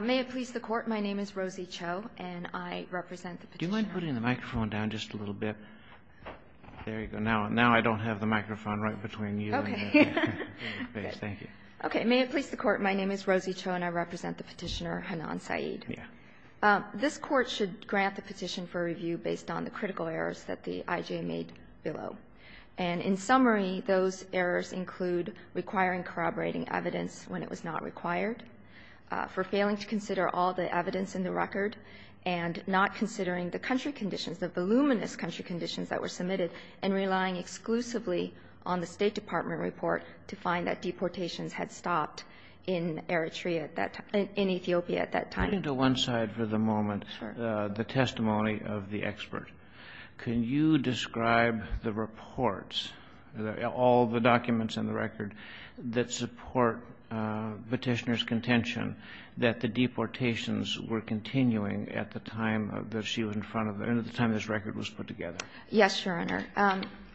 May it please the Court, my name is Rosie Cho and I represent the Petitioner Hanan Saeed. This Court should grant the petition for review based on the critical errors that the IJ made below. In summary, those errors include requiring corroborating evidence when it was not required, for failing to consider all the evidence in the record, and not considering the country conditions, the voluminous country conditions that were submitted, and relying exclusively on the State Department report to find that deportations had stopped in Eritrea at that time, in Ethiopia at that time. Let me go to one side for the moment. Sure. The testimony of the expert. Can you describe the reports, all the documents in the record, that support Petitioner's contention that the deportations were continuing at the time that she was in front of her, at the time this record was put together? Yes, Your Honor.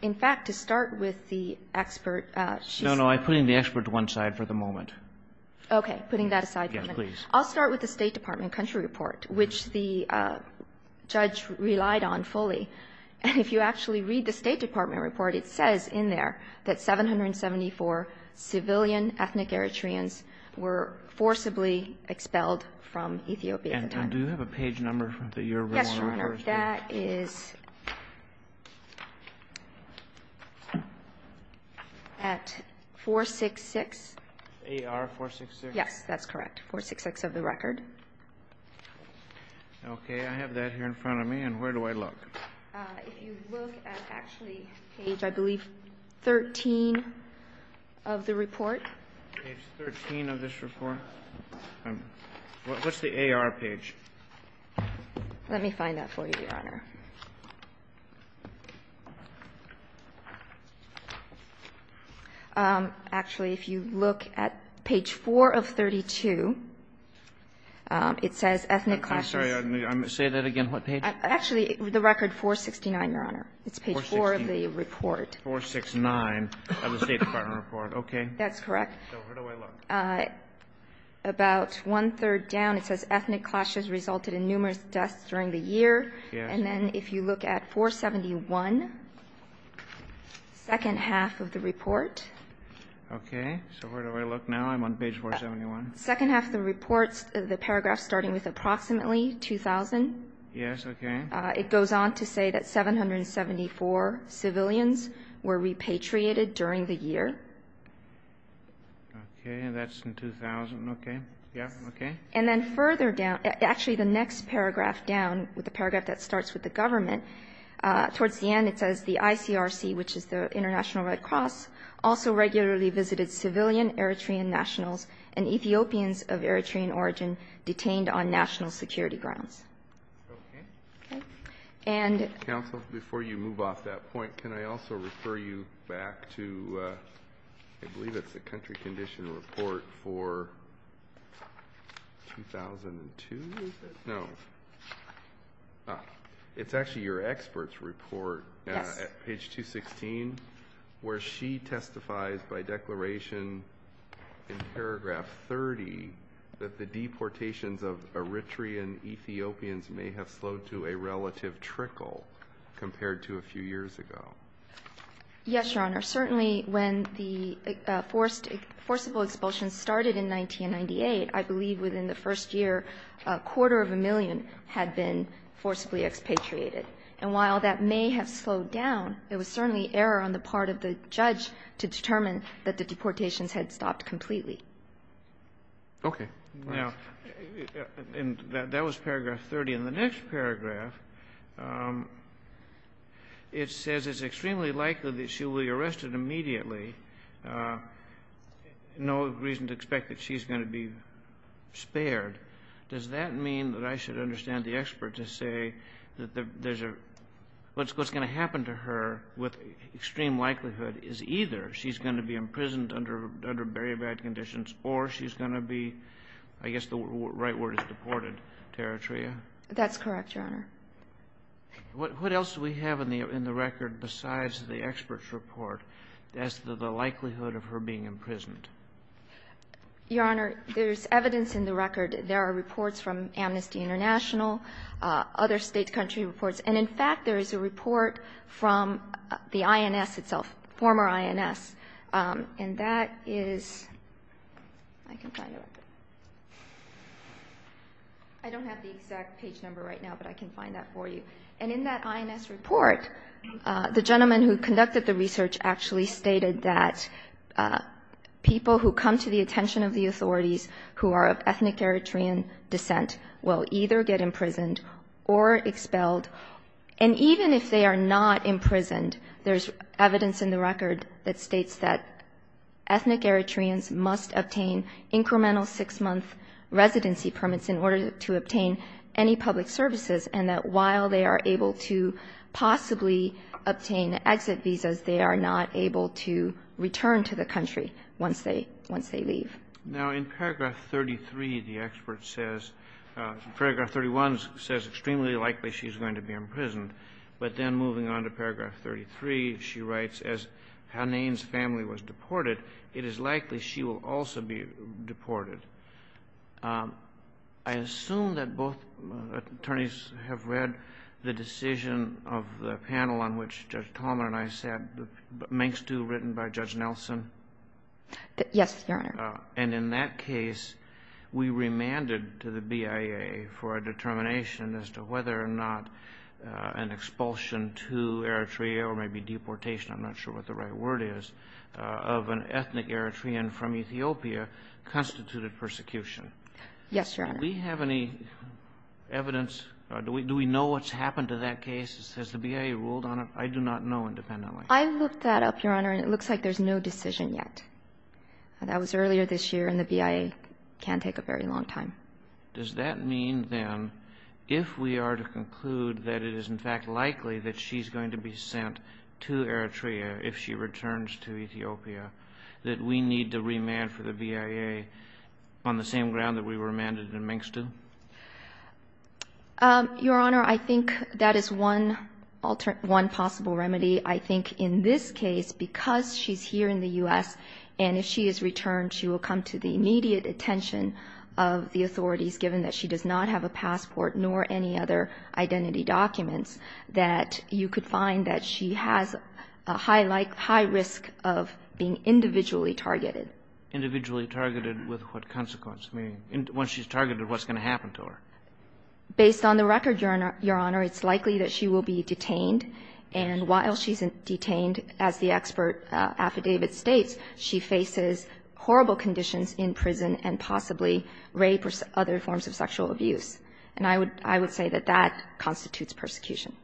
In fact, to start with the expert, she's the expert. No, no. I'm putting the expert to one side for the moment. Okay. Putting that aside for the moment. Yes, please. I'll start with the State Department country report, which the judge relied on fully. And if you actually read the State Department report, it says in there that 774 civilian ethnic Eritreans were forcibly expelled from Ethiopia at the time. And do you have a page number that you're willing to refer to? Yes, Your Honor. That is at 466. AR-466? Yes, that's correct. 466 of the record. Okay. I have that here in front of me. And where do I look? If you look at actually page, I believe, 13 of the report. Page 13 of this report? Let me find that for you, Your Honor. Actually, if you look at page 4 of 32, it says ethnic clashes. I'm sorry. Say that again. What page? Actually, the record 469, Your Honor. It's page 4 of the report. 469 of the State Department report. Okay. That's correct. So where do I look? About one-third down, it says ethnic clashes resulted in numerous deaths during the year. Yes. And then if you look at 471, second half of the report. Okay. So where do I look now? I'm on page 471. Second half of the report, the paragraph starting with approximately 2,000. Yes. Okay. It goes on to say that 774 civilians were repatriated during the year. Okay. And that's in 2000. Okay. Yes. Okay. And then further down, actually the next paragraph down with the paragraph that starts with the government, towards the end it says the ICRC, which is the International Red Cross, also regularly visited civilian Eritrean nationals and Ethiopians of Eritrean origin detained on national security grounds. Okay. And the next paragraph. Counsel, before you move off that point, can I also refer you back to, I believe it's the country condition report for 2002? No. It's actually your expert's report. Yes. Page 216, where she testifies by declaration in paragraph 30 that the deportations of Eritrean Ethiopians may have slowed to a relative trickle compared to a few years ago. Yes, Your Honor. Certainly when the forcible expulsion started in 1998, I believe within the first year, a quarter of a million had been forcibly expatriated. And while that may have slowed down, it was certainly error on the part of the judge to determine that the deportations had stopped completely. Okay. Now, that was paragraph 30. In the next paragraph, it says it's extremely likely that she will be arrested immediately. No reason to expect that she's going to be spared. Does that mean that I should understand the expert to say that there's a — what's going to happen to her with extreme likelihood is either she's going to be imprisoned under very bad conditions or she's going to be — I guess the right word is deported to Eritrea? That's correct, Your Honor. What else do we have in the record besides the expert's report as to the likelihood of her being imprisoned? Your Honor, there's evidence in the record. There are reports from Amnesty International, other State, country reports. And in fact, there is a report from the INS itself, former INS. And that is — I can find it right there. I don't have the exact page number right now, but I can find that for you. And in that INS report, the gentleman who conducted the research actually stated that people who come to the attention of the authorities who are of ethnic Eritrean descent will either get imprisoned or expelled. And even if they are not imprisoned, there's evidence in the record that states that ethnic Eritreans must obtain incremental six-month residency permits in order to obtain any public services, and that while they are able to possibly obtain exit visas, they are not able to return to the country once they — once they leave. Now, in paragraph 33, the expert says — paragraph 31 says extremely likely she's going to be imprisoned. But then moving on to paragraph 33, she writes, as Hanane's family was deported, it is likely she will also be deported. I assume that both attorneys have read the decision of the panel on which Judge Tolman and I sat, the Mengstu written by Judge Nelson? Yes, Your Honor. And in that case, we remanded to the BIA for a determination as to whether or not an expulsion to Eritrea, or maybe deportation, I'm not sure what the right word is, of an ethnic Eritrean from Ethiopia constituted persecution. Yes, Your Honor. Do we have any evidence? Do we know what's happened to that case? Has the BIA ruled on it? I do not know independently. I looked that up, Your Honor, and it looks like there's no decision yet. That was earlier this year, and the BIA can take a very long time. Does that mean, then, if we are to conclude that it is, in fact, likely that she's going to be sent to Eritrea if she returns to Ethiopia, that we need to remand for the BIA on the same ground that we remanded the Mengstu? Your Honor, I think that is one possible remedy. I think in this case, because she's here in the U.S., and if she is returned, she will come to the immediate attention of the authorities, given that she does not have a passport nor any other identity documents, that you could find that she has a high risk of being individually targeted. Individually targeted with what consequence? I mean, once she's targeted, what's going to happen to her? Based on the record, Your Honor, it's likely that she will be detained, and while she's detained, as the expert affidavit states, she faces horrible conditions in prison and possibly rape or other forms of sexual abuse. And I would say that that constitutes persecution.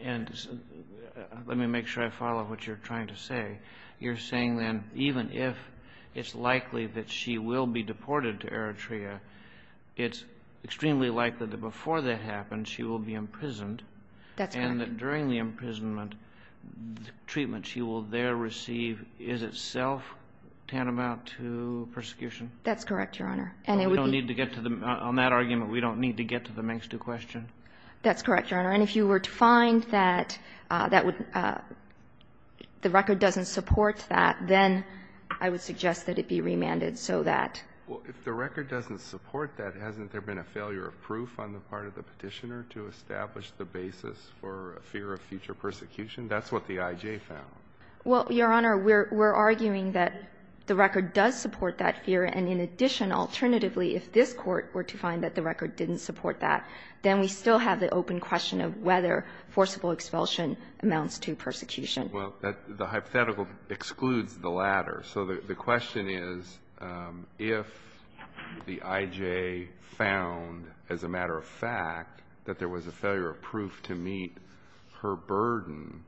And let me make sure I follow what you're trying to say. You're saying, then, even if it's likely that she will be deported to Eritrea, it's extremely likely that before that happens, she will be imprisoned. That's correct. And you're saying that during the imprisonment, the treatment she will there receive is itself tantamount to persecution? That's correct, Your Honor. And it would be ---- Well, we don't need to get to the ---- on that argument, we don't need to get to the next question. That's correct, Your Honor. And if you were to find that that would ---- the record doesn't support that, then I would suggest that it be remanded so that ---- Well, if the record doesn't support that, hasn't there been a failure of proof on the part of the Petitioner to establish the basis for a fear of future persecution? That's what the IJ found. Well, Your Honor, we're arguing that the record does support that fear. And in addition, alternatively, if this Court were to find that the record didn't support that, then we still have the open question of whether forcible expulsion amounts to persecution. Well, the hypothetical excludes the latter. So the question is, if the IJ found, as a matter of fact, that there was a failure of proof to meet her burden,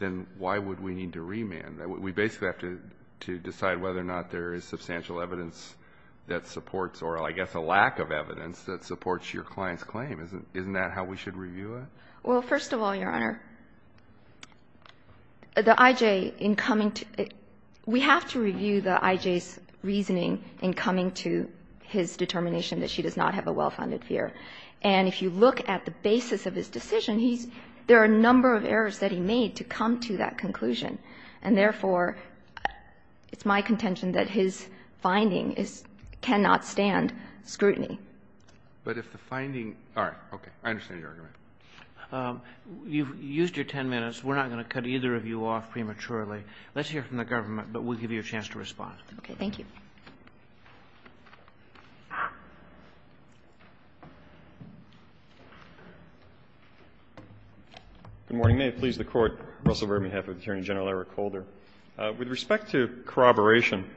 then why would we need to remand? We basically have to decide whether or not there is substantial evidence that supports or, I guess, a lack of evidence that supports your client's claim. Isn't that how we should review it? Well, first of all, Your Honor, the IJ, in coming to ---- we have to review the IJ's reasoning in coming to his determination that she does not have a well-founded fear. And if you look at the basis of his decision, he's ---- there are a number of errors that he made to come to that conclusion. And therefore, it's my contention that his finding is ---- cannot stand scrutiny. But if the finding ---- all right. Okay. I understand your argument. Kagan. You've used your 10 minutes. We're not going to cut either of you off prematurely. Let's hear from the government, but we'll give you a chance to respond. Okay. Thank you. Good morning. May it please the Court. Russell Burr, on behalf of Attorney General Eric Holder. With respect to corroboration,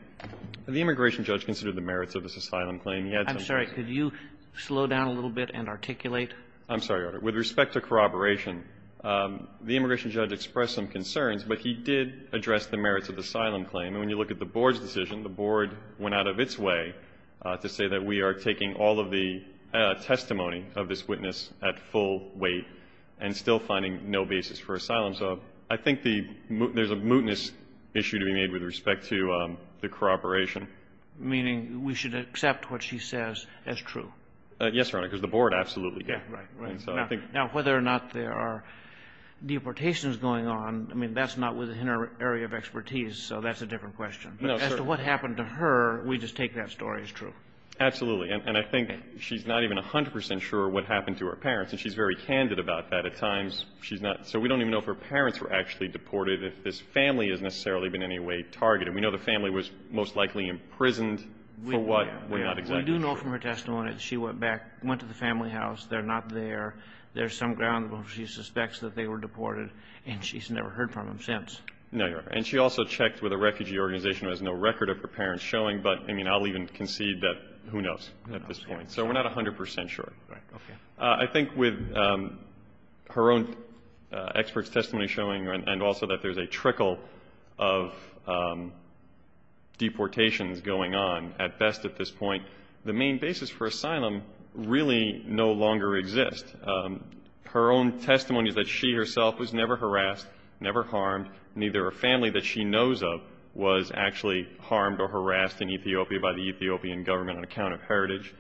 the immigration judge considered the merits of this asylum claim. He had some ---- I'm sorry. Could you slow down a little bit and articulate? I'm sorry, Your Honor. With respect to corroboration, the immigration judge expressed some concerns, but he did address the merits of the asylum claim. And when you look at the Board's decision, the Board went out of its way to say that we are taking all of the testimony of this witness at full weight and still finding no basis for asylum. So I think the ---- there's a mootness issue to be made with respect to the corroboration. Meaning we should accept what she says as true. Yes, Your Honor. Because the Board absolutely did. Right. Right. And so I think ---- Now, whether or not there are deportations going on, I mean, that's not within our area of expertise. So that's a different question. No, sir. But as to what happened to her, we just take that story as true. Absolutely. And I think she's not even 100 percent sure what happened to her parents, and she's very candid about that. At times, she's not ---- so we don't even know if her parents were actually deported, if this family has necessarily been in any way targeted. We know the family was most likely imprisoned for what we're not exactly sure. We do know from her testimony that she went back, went to the family house. They're not there. There's some ground where she suspects that they were deported, and she's never heard from them since. No, Your Honor. And she also checked with a refugee organization who has no record of her parents showing. But, I mean, I'll even concede that who knows at this point. So we're not 100 percent sure. Right. Okay. I think with her own expert testimony showing, and also that there's a trickle of deportations going on at best at this point, the main basis for asylum really no longer exists. Her own testimony is that she herself was never harassed, never harmed. Neither a family that she knows of was actually harmed or harassed in Ethiopia by the Ethiopian government on account of heritage.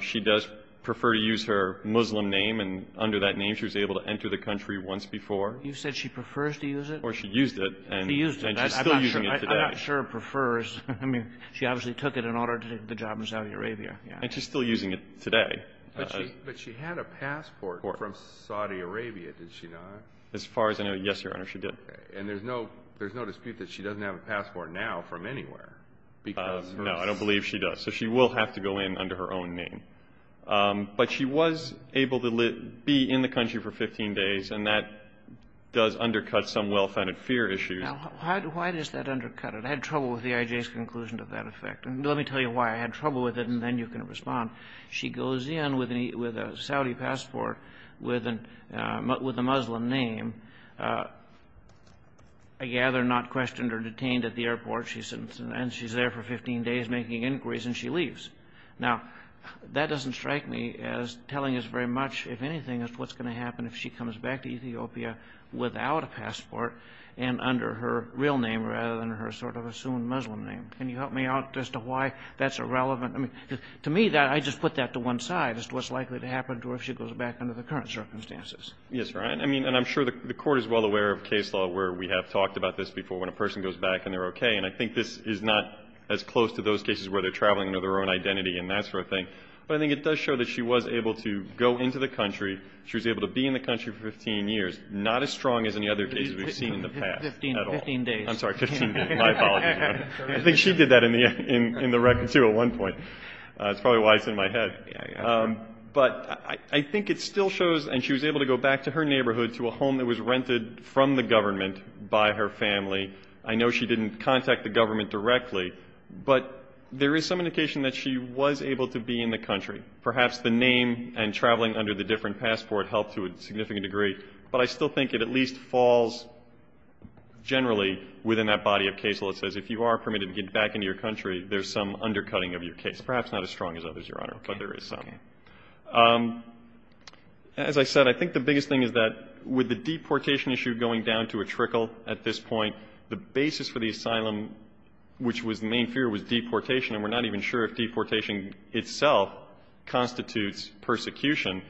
She does prefer to use her Muslim name, and under that name she was able to enter the country once before. You said she prefers to use it? Or she used it. She used it. And she's still using it today. I'm not sure it prefers. I mean, she obviously took it in order to get the job in Saudi Arabia. And she's still using it today. But she had a passport from Saudi Arabia, did she not? As far as I know, yes, Your Honor, she did. And there's no dispute that she doesn't have a passport now from anywhere. No, I don't believe she does. So she will have to go in under her own name. But she was able to be in the country for 15 days, and that does undercut some well-founded fear issues. Now, why does that undercut it? I had trouble with the IJ's conclusion to that effect. And let me tell you why I had trouble with it, and then you can respond. She goes in with a Saudi passport with a Muslim name. I gather not questioned or detained at the airport. And she's there for 15 days making inquiries, and she leaves. Now, that doesn't strike me as telling us very much, if anything, as to what's going to happen if she comes back to Ethiopia without a passport and under her real name rather than her sort of assumed Muslim name. Can you help me out as to why that's irrelevant? I mean, to me, I just put that to one side as to what's likely to happen to her if she goes back under the current circumstances. Yes, Your Honor. I mean, and I'm sure the Court is well aware of case law where we have talked about this before, when a person goes back and they're okay. And I think this is not as close to those cases where they're traveling under their own identity and that sort of thing. But I think it does show that she was able to go into the country, she was able to be in the country for 15 years, not as strong as any other case we've seen in the past at all. Fifteen days. I'm sorry, 15 days. My apologies, Your Honor. I think she did that in the record, too, at one point. That's probably why it's in my head. But I think it still shows, and she was able to go back to her neighborhood, to a family. I know she didn't contact the government directly, but there is some indication that she was able to be in the country. Perhaps the name and traveling under the different passport helped to a significant degree, but I still think it at least falls generally within that body of case law that says if you are permitted to get back into your country, there's some undercutting of your case. Perhaps not as strong as others, Your Honor, but there is some. Okay. Okay. As I said, I think the biggest thing is that with the deportation issue going down to a trickle at this point, the basis for the asylum, which was the main fear, was deportation, and we're not even sure if deportation itself constitutes persecution,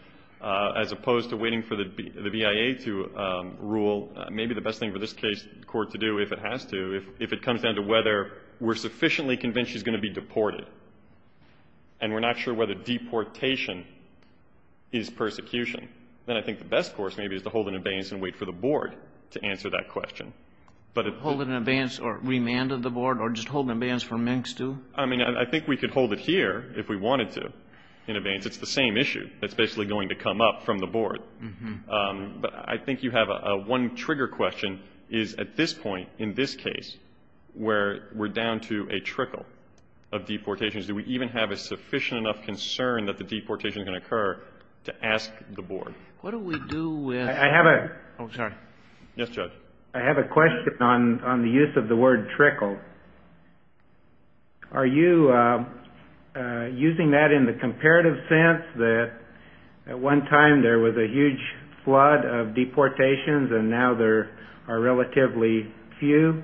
as opposed to waiting for the BIA to rule. Maybe the best thing for this court to do, if it has to, if it comes down to whether we're sufficiently convinced she's going to be deported and we're not sure whether deportation is persecution, then I think the best course maybe is to hold an abeyance from the board to answer that question. Hold an abeyance or remand of the board or just hold an abeyance from MNCS, too? I mean, I think we could hold it here if we wanted to in abeyance. It's the same issue that's basically going to come up from the board. But I think you have a one-trigger question is at this point in this case where we're down to a trickle of deportations. Do we even have a sufficient enough concern that the deportation is going to occur to ask the board? What do we do with the deportation? I have a question on the use of the word trickle. Are you using that in the comparative sense that at one time there was a huge flood of deportations and now there are relatively few?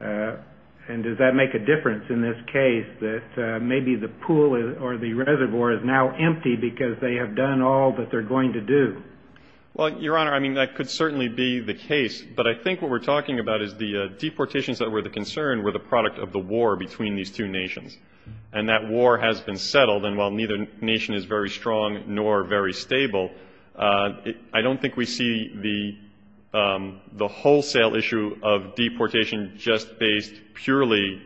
And does that make a difference in this case that maybe the pool or the reservoir is now empty because they have done all that they're going to do? Well, Your Honor, I mean, that could certainly be the case. But I think what we're talking about is the deportations that were the concern were the product of the war between these two nations. And that war has been settled. And while neither nation is very strong nor very stable, I don't think we see the wholesale issue of deportation just based purely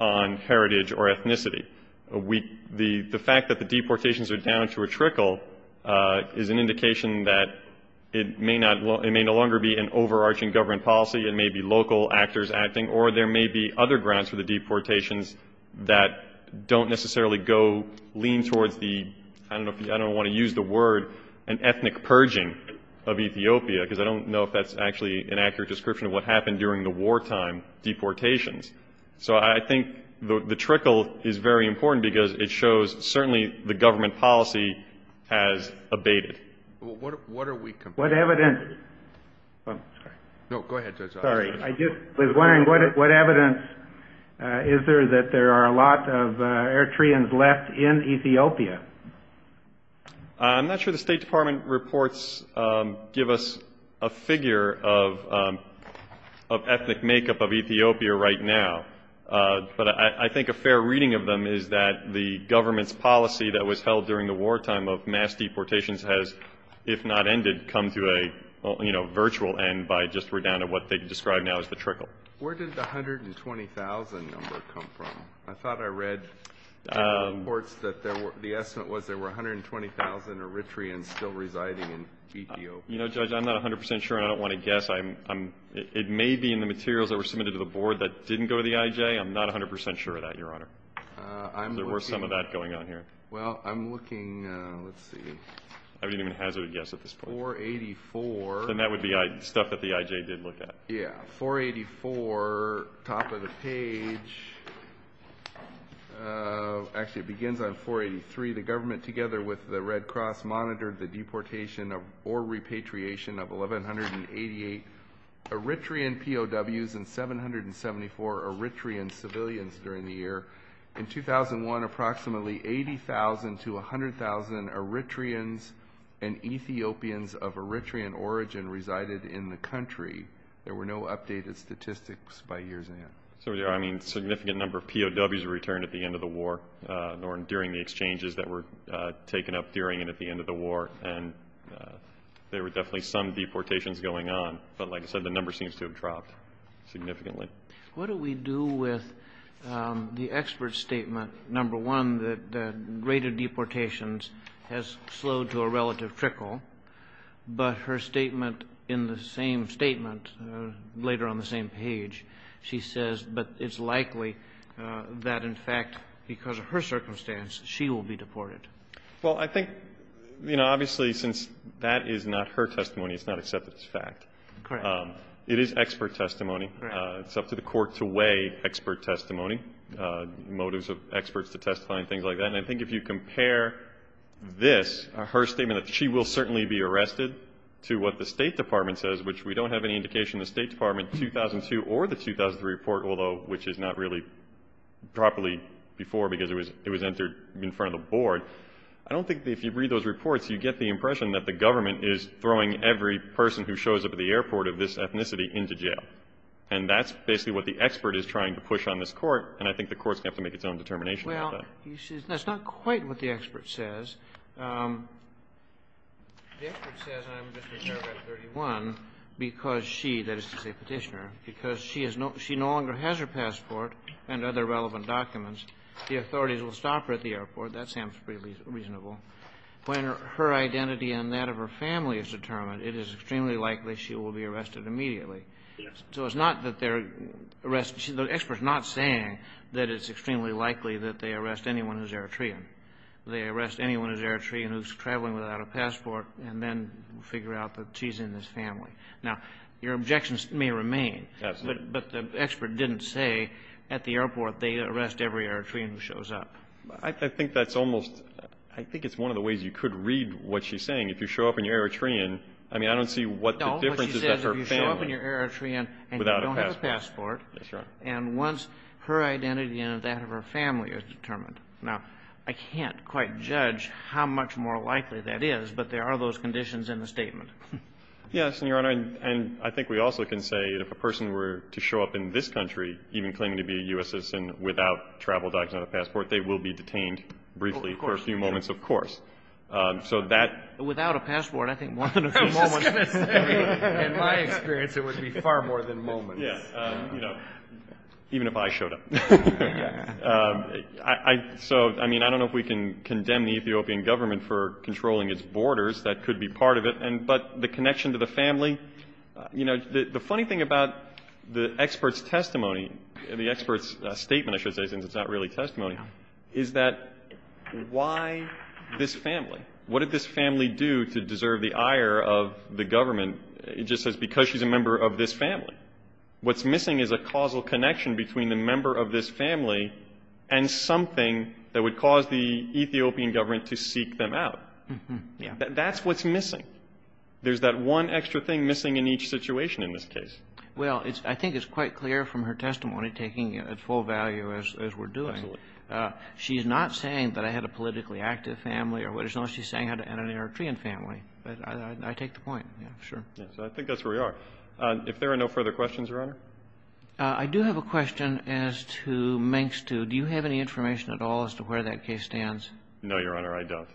on heritage or ethnicity. The fact that the deportations are down to a trickle is an indication that it may no longer be an overarching government policy, it may be local actors acting, or there may be other grounds for the deportations that don't necessarily go lean towards the, I don't want to use the word, an ethnic purging of Ethiopia, because I don't know if that's actually an accurate description of what happened during the wartime deportations. So I think the trickle is very important because it shows certainly the government policy has abated. What evidence is there that there are a lot of Eritreans left in Ethiopia? I'm not sure the State Department reports give us a figure of ethnic makeup of But I think a fair reading of them is that the government's policy that was held during the wartime of mass deportations has, if not ended, come to a virtual end by just down to what they describe now as the trickle. Where did the 120,000 number come from? I thought I read reports that the estimate was there were 120,000 Eritreans still residing in Ethiopia. You know, Judge, I'm not 100 percent sure and I don't want to guess. It may be in the materials that were submitted to the board that didn't go to the IJ. I'm not 100 percent sure of that, Your Honor. There were some of that going on here. Well, I'm looking, let's see. I wouldn't even hazard a guess at this point. 484. Then that would be stuff that the IJ did look at. Yeah, 484, top of the page. Actually, it begins on 483. The government, together with the Red Cross, monitored the deportation or repatriation of 1,188 Eritrean POWs and 774 Eritrean civilians during the year. In 2001, approximately 80,000 to 100,000 Eritreans and Ethiopians of Eritrean origin resided in the country. There were no updated statistics by years in the end. So, I mean, a significant number of POWs returned at the end of the war or during the exchanges that were taken up during and at the end of the war, and there were definitely some deportations going on. But like I said, the number seems to have dropped significantly. What do we do with the expert's statement, number one, that the rate of deportations has slowed to a relative trickle, but her statement in the same statement later on the same page, she says, but it's likely that, in fact, because of her circumstance, she will be deported? Well, I think, you know, obviously, since that is not her testimony, it's not accepted as fact. Correct. It is expert testimony. Correct. It's up to the Court to weigh expert testimony, motives of experts to testify and things like that. And I think if you compare this, her statement that she will certainly be arrested to what the State Department says, which we don't have any indication the State Department says, although which is not really properly before because it was entered in front of the board, I don't think that if you read those reports, you get the impression that the government is throwing every person who shows up at the airport of this ethnicity into jail. And that's basically what the expert is trying to push on this Court, and I think the Court's going to have to make its own determination about that. Well, that's not quite what the expert says. The expert says I'm just reserved under 31 because she, that is to say Petitioner, because she has no, she no longer has her passport and other relevant documents. The authorities will stop her at the airport. That sounds pretty reasonable. When her identity and that of her family is determined, it is extremely likely she will be arrested immediately. Yes. So it's not that they're arresting, the expert's not saying that it's extremely likely that they arrest anyone who's Eritrean. They arrest anyone who's Eritrean who's traveling without a passport and then figure out that she's in this family. Now, your objections may remain. Absolutely. But the expert didn't say at the airport they arrest every Eritrean who shows up. I think that's almost, I think it's one of the ways you could read what she's saying. If you show up in your Eritrean, I mean, I don't see what the difference is that her family. No, but she says if you show up in your Eritrean and you don't have a passport. Without a passport. That's right. And once her identity and that of her family is determined. Now, I can't quite judge how much more likely that is, but there are those conditions in the statement. Yes, and, Your Honor, and I think we also can say if a person were to show up in this country, even claiming to be a U.S. citizen without travel documents and a passport, they will be detained briefly. Of course. For a few moments, of course. So that. Without a passport, I think one of the moments. In my experience, it would be far more than moments. Yes. You know, even if I showed up. So, I mean, I don't know if we can condemn the Ethiopian government for controlling its borders. That could be part of it. But the connection to the family. You know, the funny thing about the expert's testimony, the expert's statement, I should say, since it's not really testimony, is that why this family? What did this family do to deserve the ire of the government? It just says because she's a member of this family. What's missing is a causal connection between the member of this family and something that would cause the Ethiopian government to seek them out. Yeah. That's what's missing. There's that one extra thing missing in each situation in this case. Well, I think it's quite clear from her testimony, taking it at full value as we're doing. Absolutely. She's not saying that I had a politically active family or what it's not. She's saying I had an Eritrean family. But I take the point. Yeah. Sure. Yes. I think that's where we are. If there are no further questions, Your Honor. I do have a question as to Mengstu. Do you have any information at all as to where that case stands? No, Your Honor, I don't.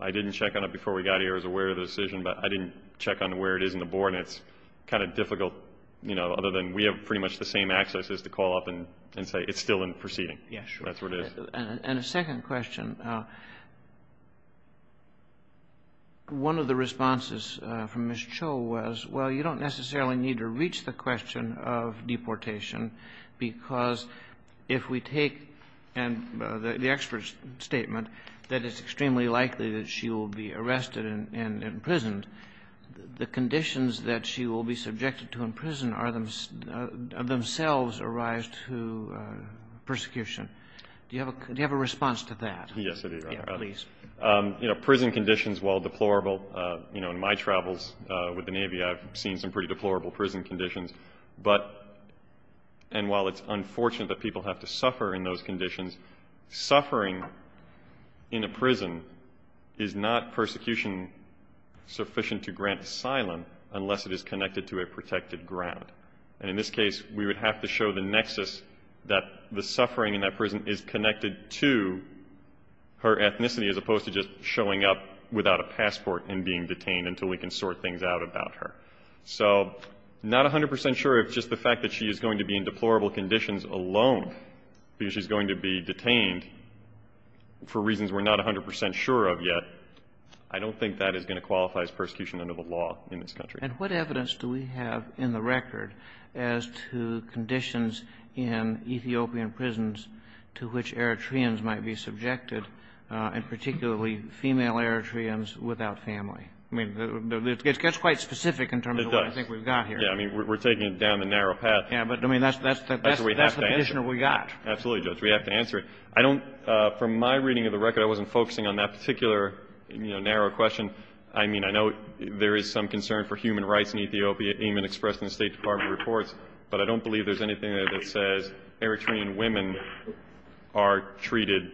I didn't check on it before we got here. I was aware of the decision. But I didn't check on where it is in the board. And it's kind of difficult, you know, other than we have pretty much the same access as to call up and say it's still in proceeding. Yeah. Sure. That's where it is. And a second question. One of the responses from Ms. Cho was, well, you don't necessarily need to reach the question of deportation because if we take the expert's statement that it's extremely likely that she will be arrested and imprisoned, the conditions that she will be subjected to in prison are themselves a rise to persecution. Do you have a response to that? Yes, I do, Your Honor. Yeah, please. You know, prison conditions, while deplorable, you know, in my travels with the Navy, I've seen some pretty deplorable prison conditions. But and while it's unfortunate that people have to suffer in those conditions, suffering in a prison is not persecution sufficient to grant asylum unless it is connected to a protected ground. And in this case, we would have to show the nexus that the suffering in that prison is connected to her ethnicity as opposed to just showing up without a passport and being detained until we can sort things out about her. So not 100 percent sure of just the fact that she is going to be in deplorable conditions alone because she's going to be detained for reasons we're not 100 percent sure of yet, I don't think that is going to qualify as persecution under the law in this country. And what evidence do we have in the record as to conditions in Ethiopian prisons to which Eritreans might be subjected, and particularly female Eritreans without family? I mean, it gets quite specific in terms of what I think we've got here. It does. Yeah. I mean, we're taking it down the narrow path. Yeah. But, I mean, that's the condition that we got. Absolutely, Judge. We have to answer it. I don't – from my reading of the record, I wasn't focusing on that particular, you know, narrow question. I mean, I know there is some concern for human rights in Ethiopia, even expressed in the State Department reports. But I don't believe there's anything there that says Eritrean women are treated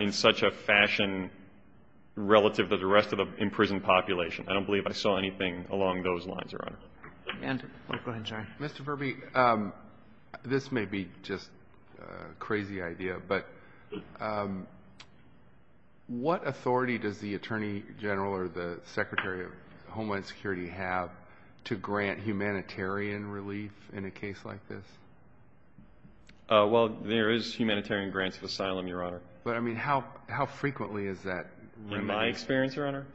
in such a fashion relative to the rest of the imprisoned population. I don't believe I saw anything along those lines, Your Honor. And – oh, go ahead, John. Mr. Verby, this may be just a crazy idea, but what authority does the Attorney General or the Secretary of Homeland Security have to grant humanitarian relief in a case like this? Well, there is humanitarian grants of asylum, Your Honor. But, I mean, how frequently is that? In my experience, Your Honor,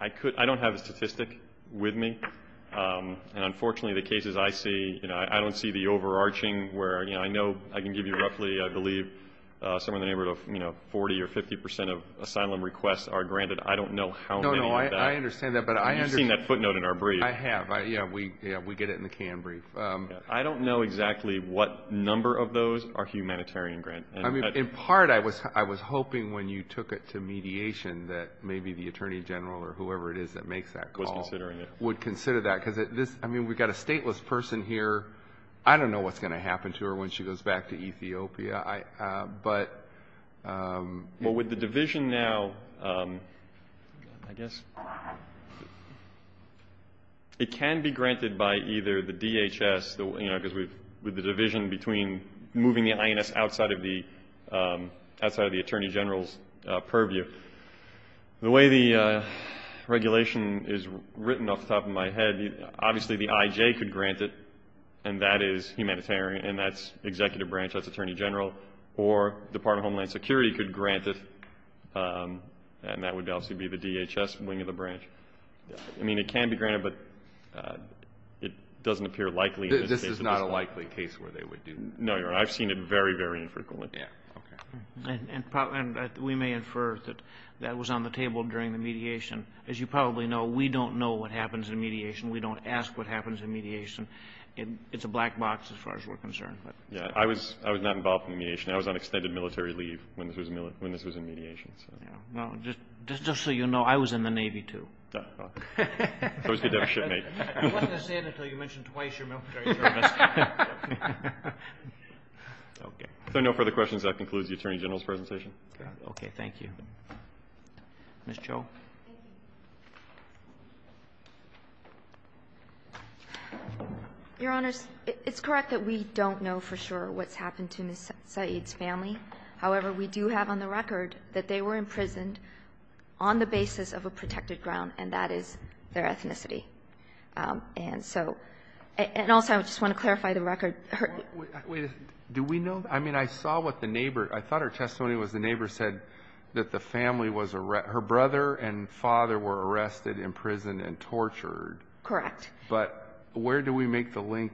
I don't have a statistic with me. And, unfortunately, the cases I see, you know, I don't see the overarching where, you know, I know I can give you roughly, I believe, somewhere in the neighborhood of, you know, 40 or 50 percent of asylum requests are granted. I don't know how many of that. No, no. I understand that. But I understand. You've seen that footnote in our brief. I have. Yeah, we get it in the canned brief. I don't know exactly what number of those are humanitarian grants. I mean, in part, I was hoping when you took it to mediation that maybe the Attorney General or whoever it is that makes that call would consider that. Because, I mean, we've got a stateless person here. I don't know what's going to happen to her when she goes back to Ethiopia. But with the division now, I guess it can be granted by either the DHS, you know, because with the division between moving the INS outside of the Attorney General's purview. The way the regulation is written off the top of my head, obviously the IJ could grant it, and that is humanitarian, and that's executive branch. That's Attorney General. Or Department of Homeland Security could grant it, and that would obviously be the DHS wing of the branch. I mean, it can be granted, but it doesn't appear likely in this case. This is not a likely case where they would do that. No, Your Honor. I've seen it very, very infrequently. Yeah. Okay. And we may infer that that was on the table during the mediation. As you probably know, we don't know what happens in mediation. We don't ask what happens in mediation. It's a black box as far as we're concerned. Yeah. I was not involved in mediation. I was on extended military leave when this was in mediation. Yeah. Well, just so you know, I was in the Navy, too. Oh. I was cadet shipmate. It wasn't until you mentioned twice your military service. Okay. If there are no further questions, that concludes the Attorney General's presentation. Okay. Thank you. Ms. Cho. Thank you. Your Honors, it's correct that we don't know for sure what's happened to Ms. Saeed's family. However, we do have on the record that they were imprisoned on the basis of a protected ground, and that is their ethnicity. And so also I just want to clarify the record. Wait a minute. Do we know? I mean, I saw what the neighbor – I thought her testimony was the neighbor said that the family was – her brother and father were arrested, imprisoned, and tortured. Correct. But where do we make the link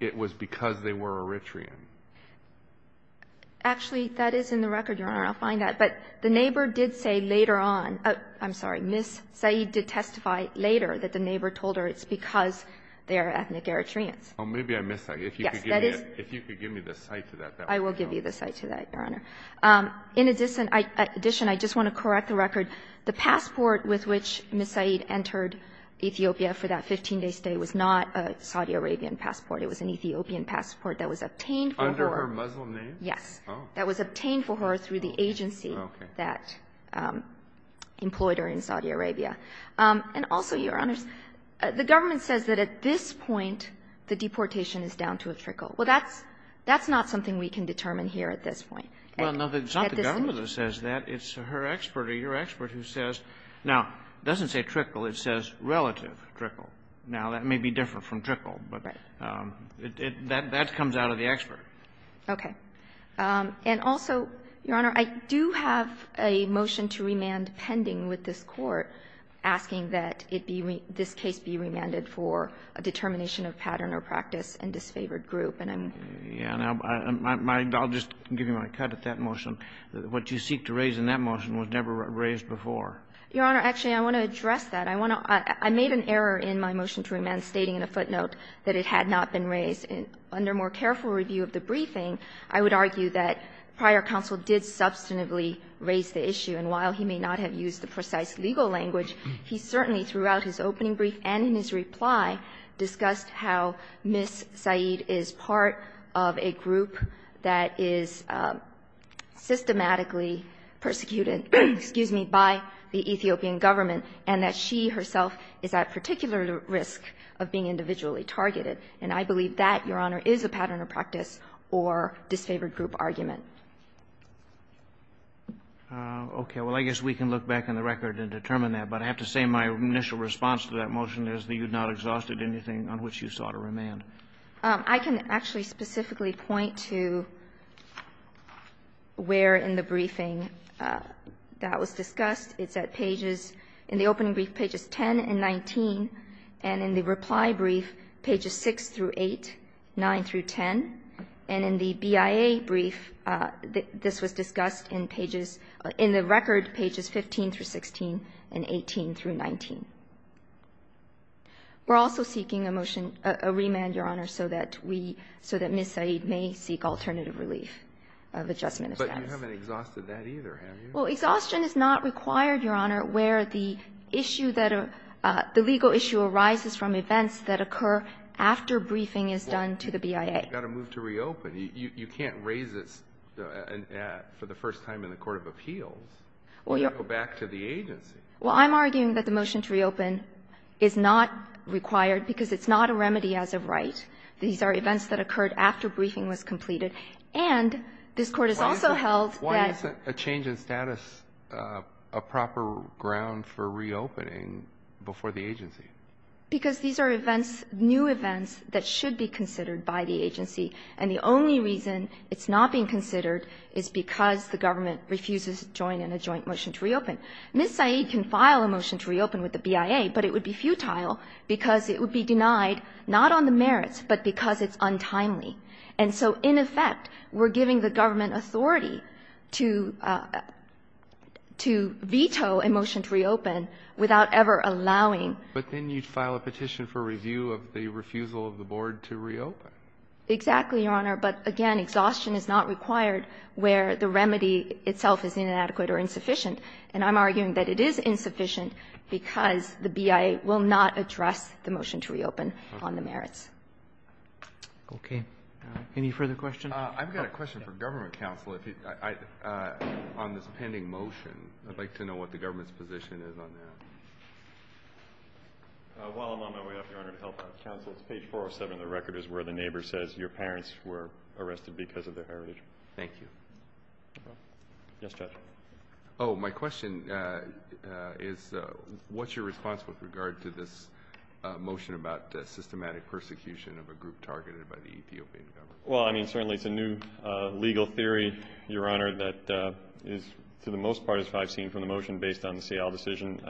it was because they were Eritrean? Actually, that is in the record, Your Honor. I'll find that. But the neighbor did say later on – I'm sorry. Ms. Saeed did testify later that the neighbor told her it's because they are ethnic Eritreans. Oh, maybe I missed that. If you could give me the cite to that. I will give you the cite to that, Your Honor. In addition, I just want to correct the record. The passport with which Ms. Saeed entered Ethiopia for that 15-day stay was not a Saudi Arabian passport. It was an Ethiopian passport that was obtained for her. Under her Muslim name? Yes. Oh. That was obtained for her through the agency that employed her in Saudi Arabia. And also, Your Honor, the government says that at this point the deportation is down to a trickle. Well, that's not something we can determine here at this point. Well, no, it's not the government that says that. It's her expert or your expert who says – now, it doesn't say trickle. It says relative trickle. Now, that may be different from trickle, but that comes out of the expert. Okay. And also, Your Honor, I do have a motion to remand pending with this Court. I'm asking that it be – this case be remanded for a determination of pattern or practice and disfavored group. And I'm – Yeah. And I'll just give you my cut at that motion. What you seek to raise in that motion was never raised before. Your Honor, actually, I want to address that. I want to – I made an error in my motion to remand stating in a footnote that it had not been raised. Under more careful review of the briefing, I would argue that prior counsel did substantively raise the issue. And while he may not have used the precise legal language, he certainly, throughout his opening brief and in his reply, discussed how Ms. Said is part of a group that is systematically persecuted – excuse me – by the Ethiopian government, and that she herself is at particular risk of being individually targeted. And I believe that, Your Honor, is a pattern or practice or disfavored group argument. Okay. Well, I guess we can look back in the record and determine that. But I have to say my initial response to that motion is that you've not exhausted anything on which you sought a remand. I can actually specifically point to where in the briefing that was discussed. It's at pages – in the opening brief, pages 10 and 19, and in the reply brief, pages 6 through 8, 9 through 10. And in the BIA brief, this was discussed in pages – in the record, pages 15 through 16 and 18 through 19. We're also seeking a motion – a remand, Your Honor, so that we – so that Ms. Said may seek alternative relief of adjustment of status. But you haven't exhausted that either, have you? Well, exhaustion is not required, Your Honor, where the issue that a – the legal issue arises from events that occur after briefing is done to the BIA. You've got to move to reopen. You can't raise this for the first time in the court of appeals and go back to the agency. Well, I'm arguing that the motion to reopen is not required because it's not a remedy as of right. These are events that occurred after briefing was completed. And this Court has also held that – Why isn't a change in status a proper ground for reopening before the agency? Because these are events – new events that should be considered by the agency, and the only reason it's not being considered is because the government refuses to join in a joint motion to reopen. Ms. Said can file a motion to reopen with the BIA, but it would be futile because it would be denied not on the merits, but because it's untimely. And so in effect, we're giving the government authority to – to veto a motion to reopen without ever allowing – But then you'd file a petition for review of the refusal of the board to reopen. Exactly, Your Honor. But again, exhaustion is not required where the remedy itself is inadequate or insufficient. And I'm arguing that it is insufficient because the BIA will not address the motion to reopen on the merits. Okay. Any further questions? I've got a question for government counsel. On this pending motion, I'd like to know what the government's position is on that. While I'm on my way up, Your Honor, to help out counsel, it's page 407 of the record. It's where the neighbor says your parents were arrested because of their heritage. Thank you. Yes, Judge. Oh, my question is what's your response with regard to this motion about systematic persecution of a group targeted by the Ethiopian government? Well, I mean, certainly it's a new legal theory, Your Honor, that is, to the most part, as far as I've seen from the motion based on the Seattle decision,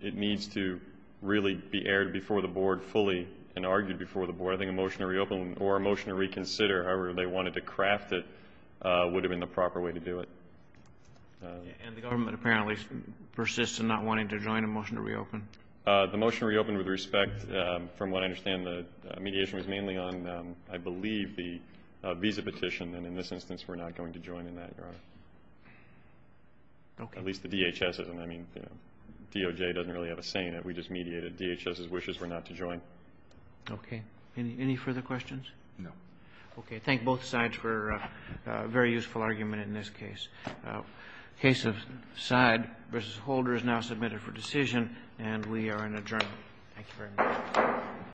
it needs to really be aired before the board fully and argued before the board. I think a motion to reopen or a motion to reconsider, however they wanted to craft it, would have been the proper way to do it. And the government apparently persists in not wanting to join a motion to reopen? The motion to reopen, with respect, from what I understand, the mediation was mainly on, I believe, the visa petition. And in this instance, we're not going to join in that, Your Honor. Okay. At least the DHS isn't. I mean, DOJ doesn't really have a say in it. We just mediated DHS's wishes for not to join. Okay. Any further questions? No. Okay. Thank both sides for a very useful argument in this case. Case of Side v. Holder is now submitted for decision, and we are in adjournment. Thank you very much.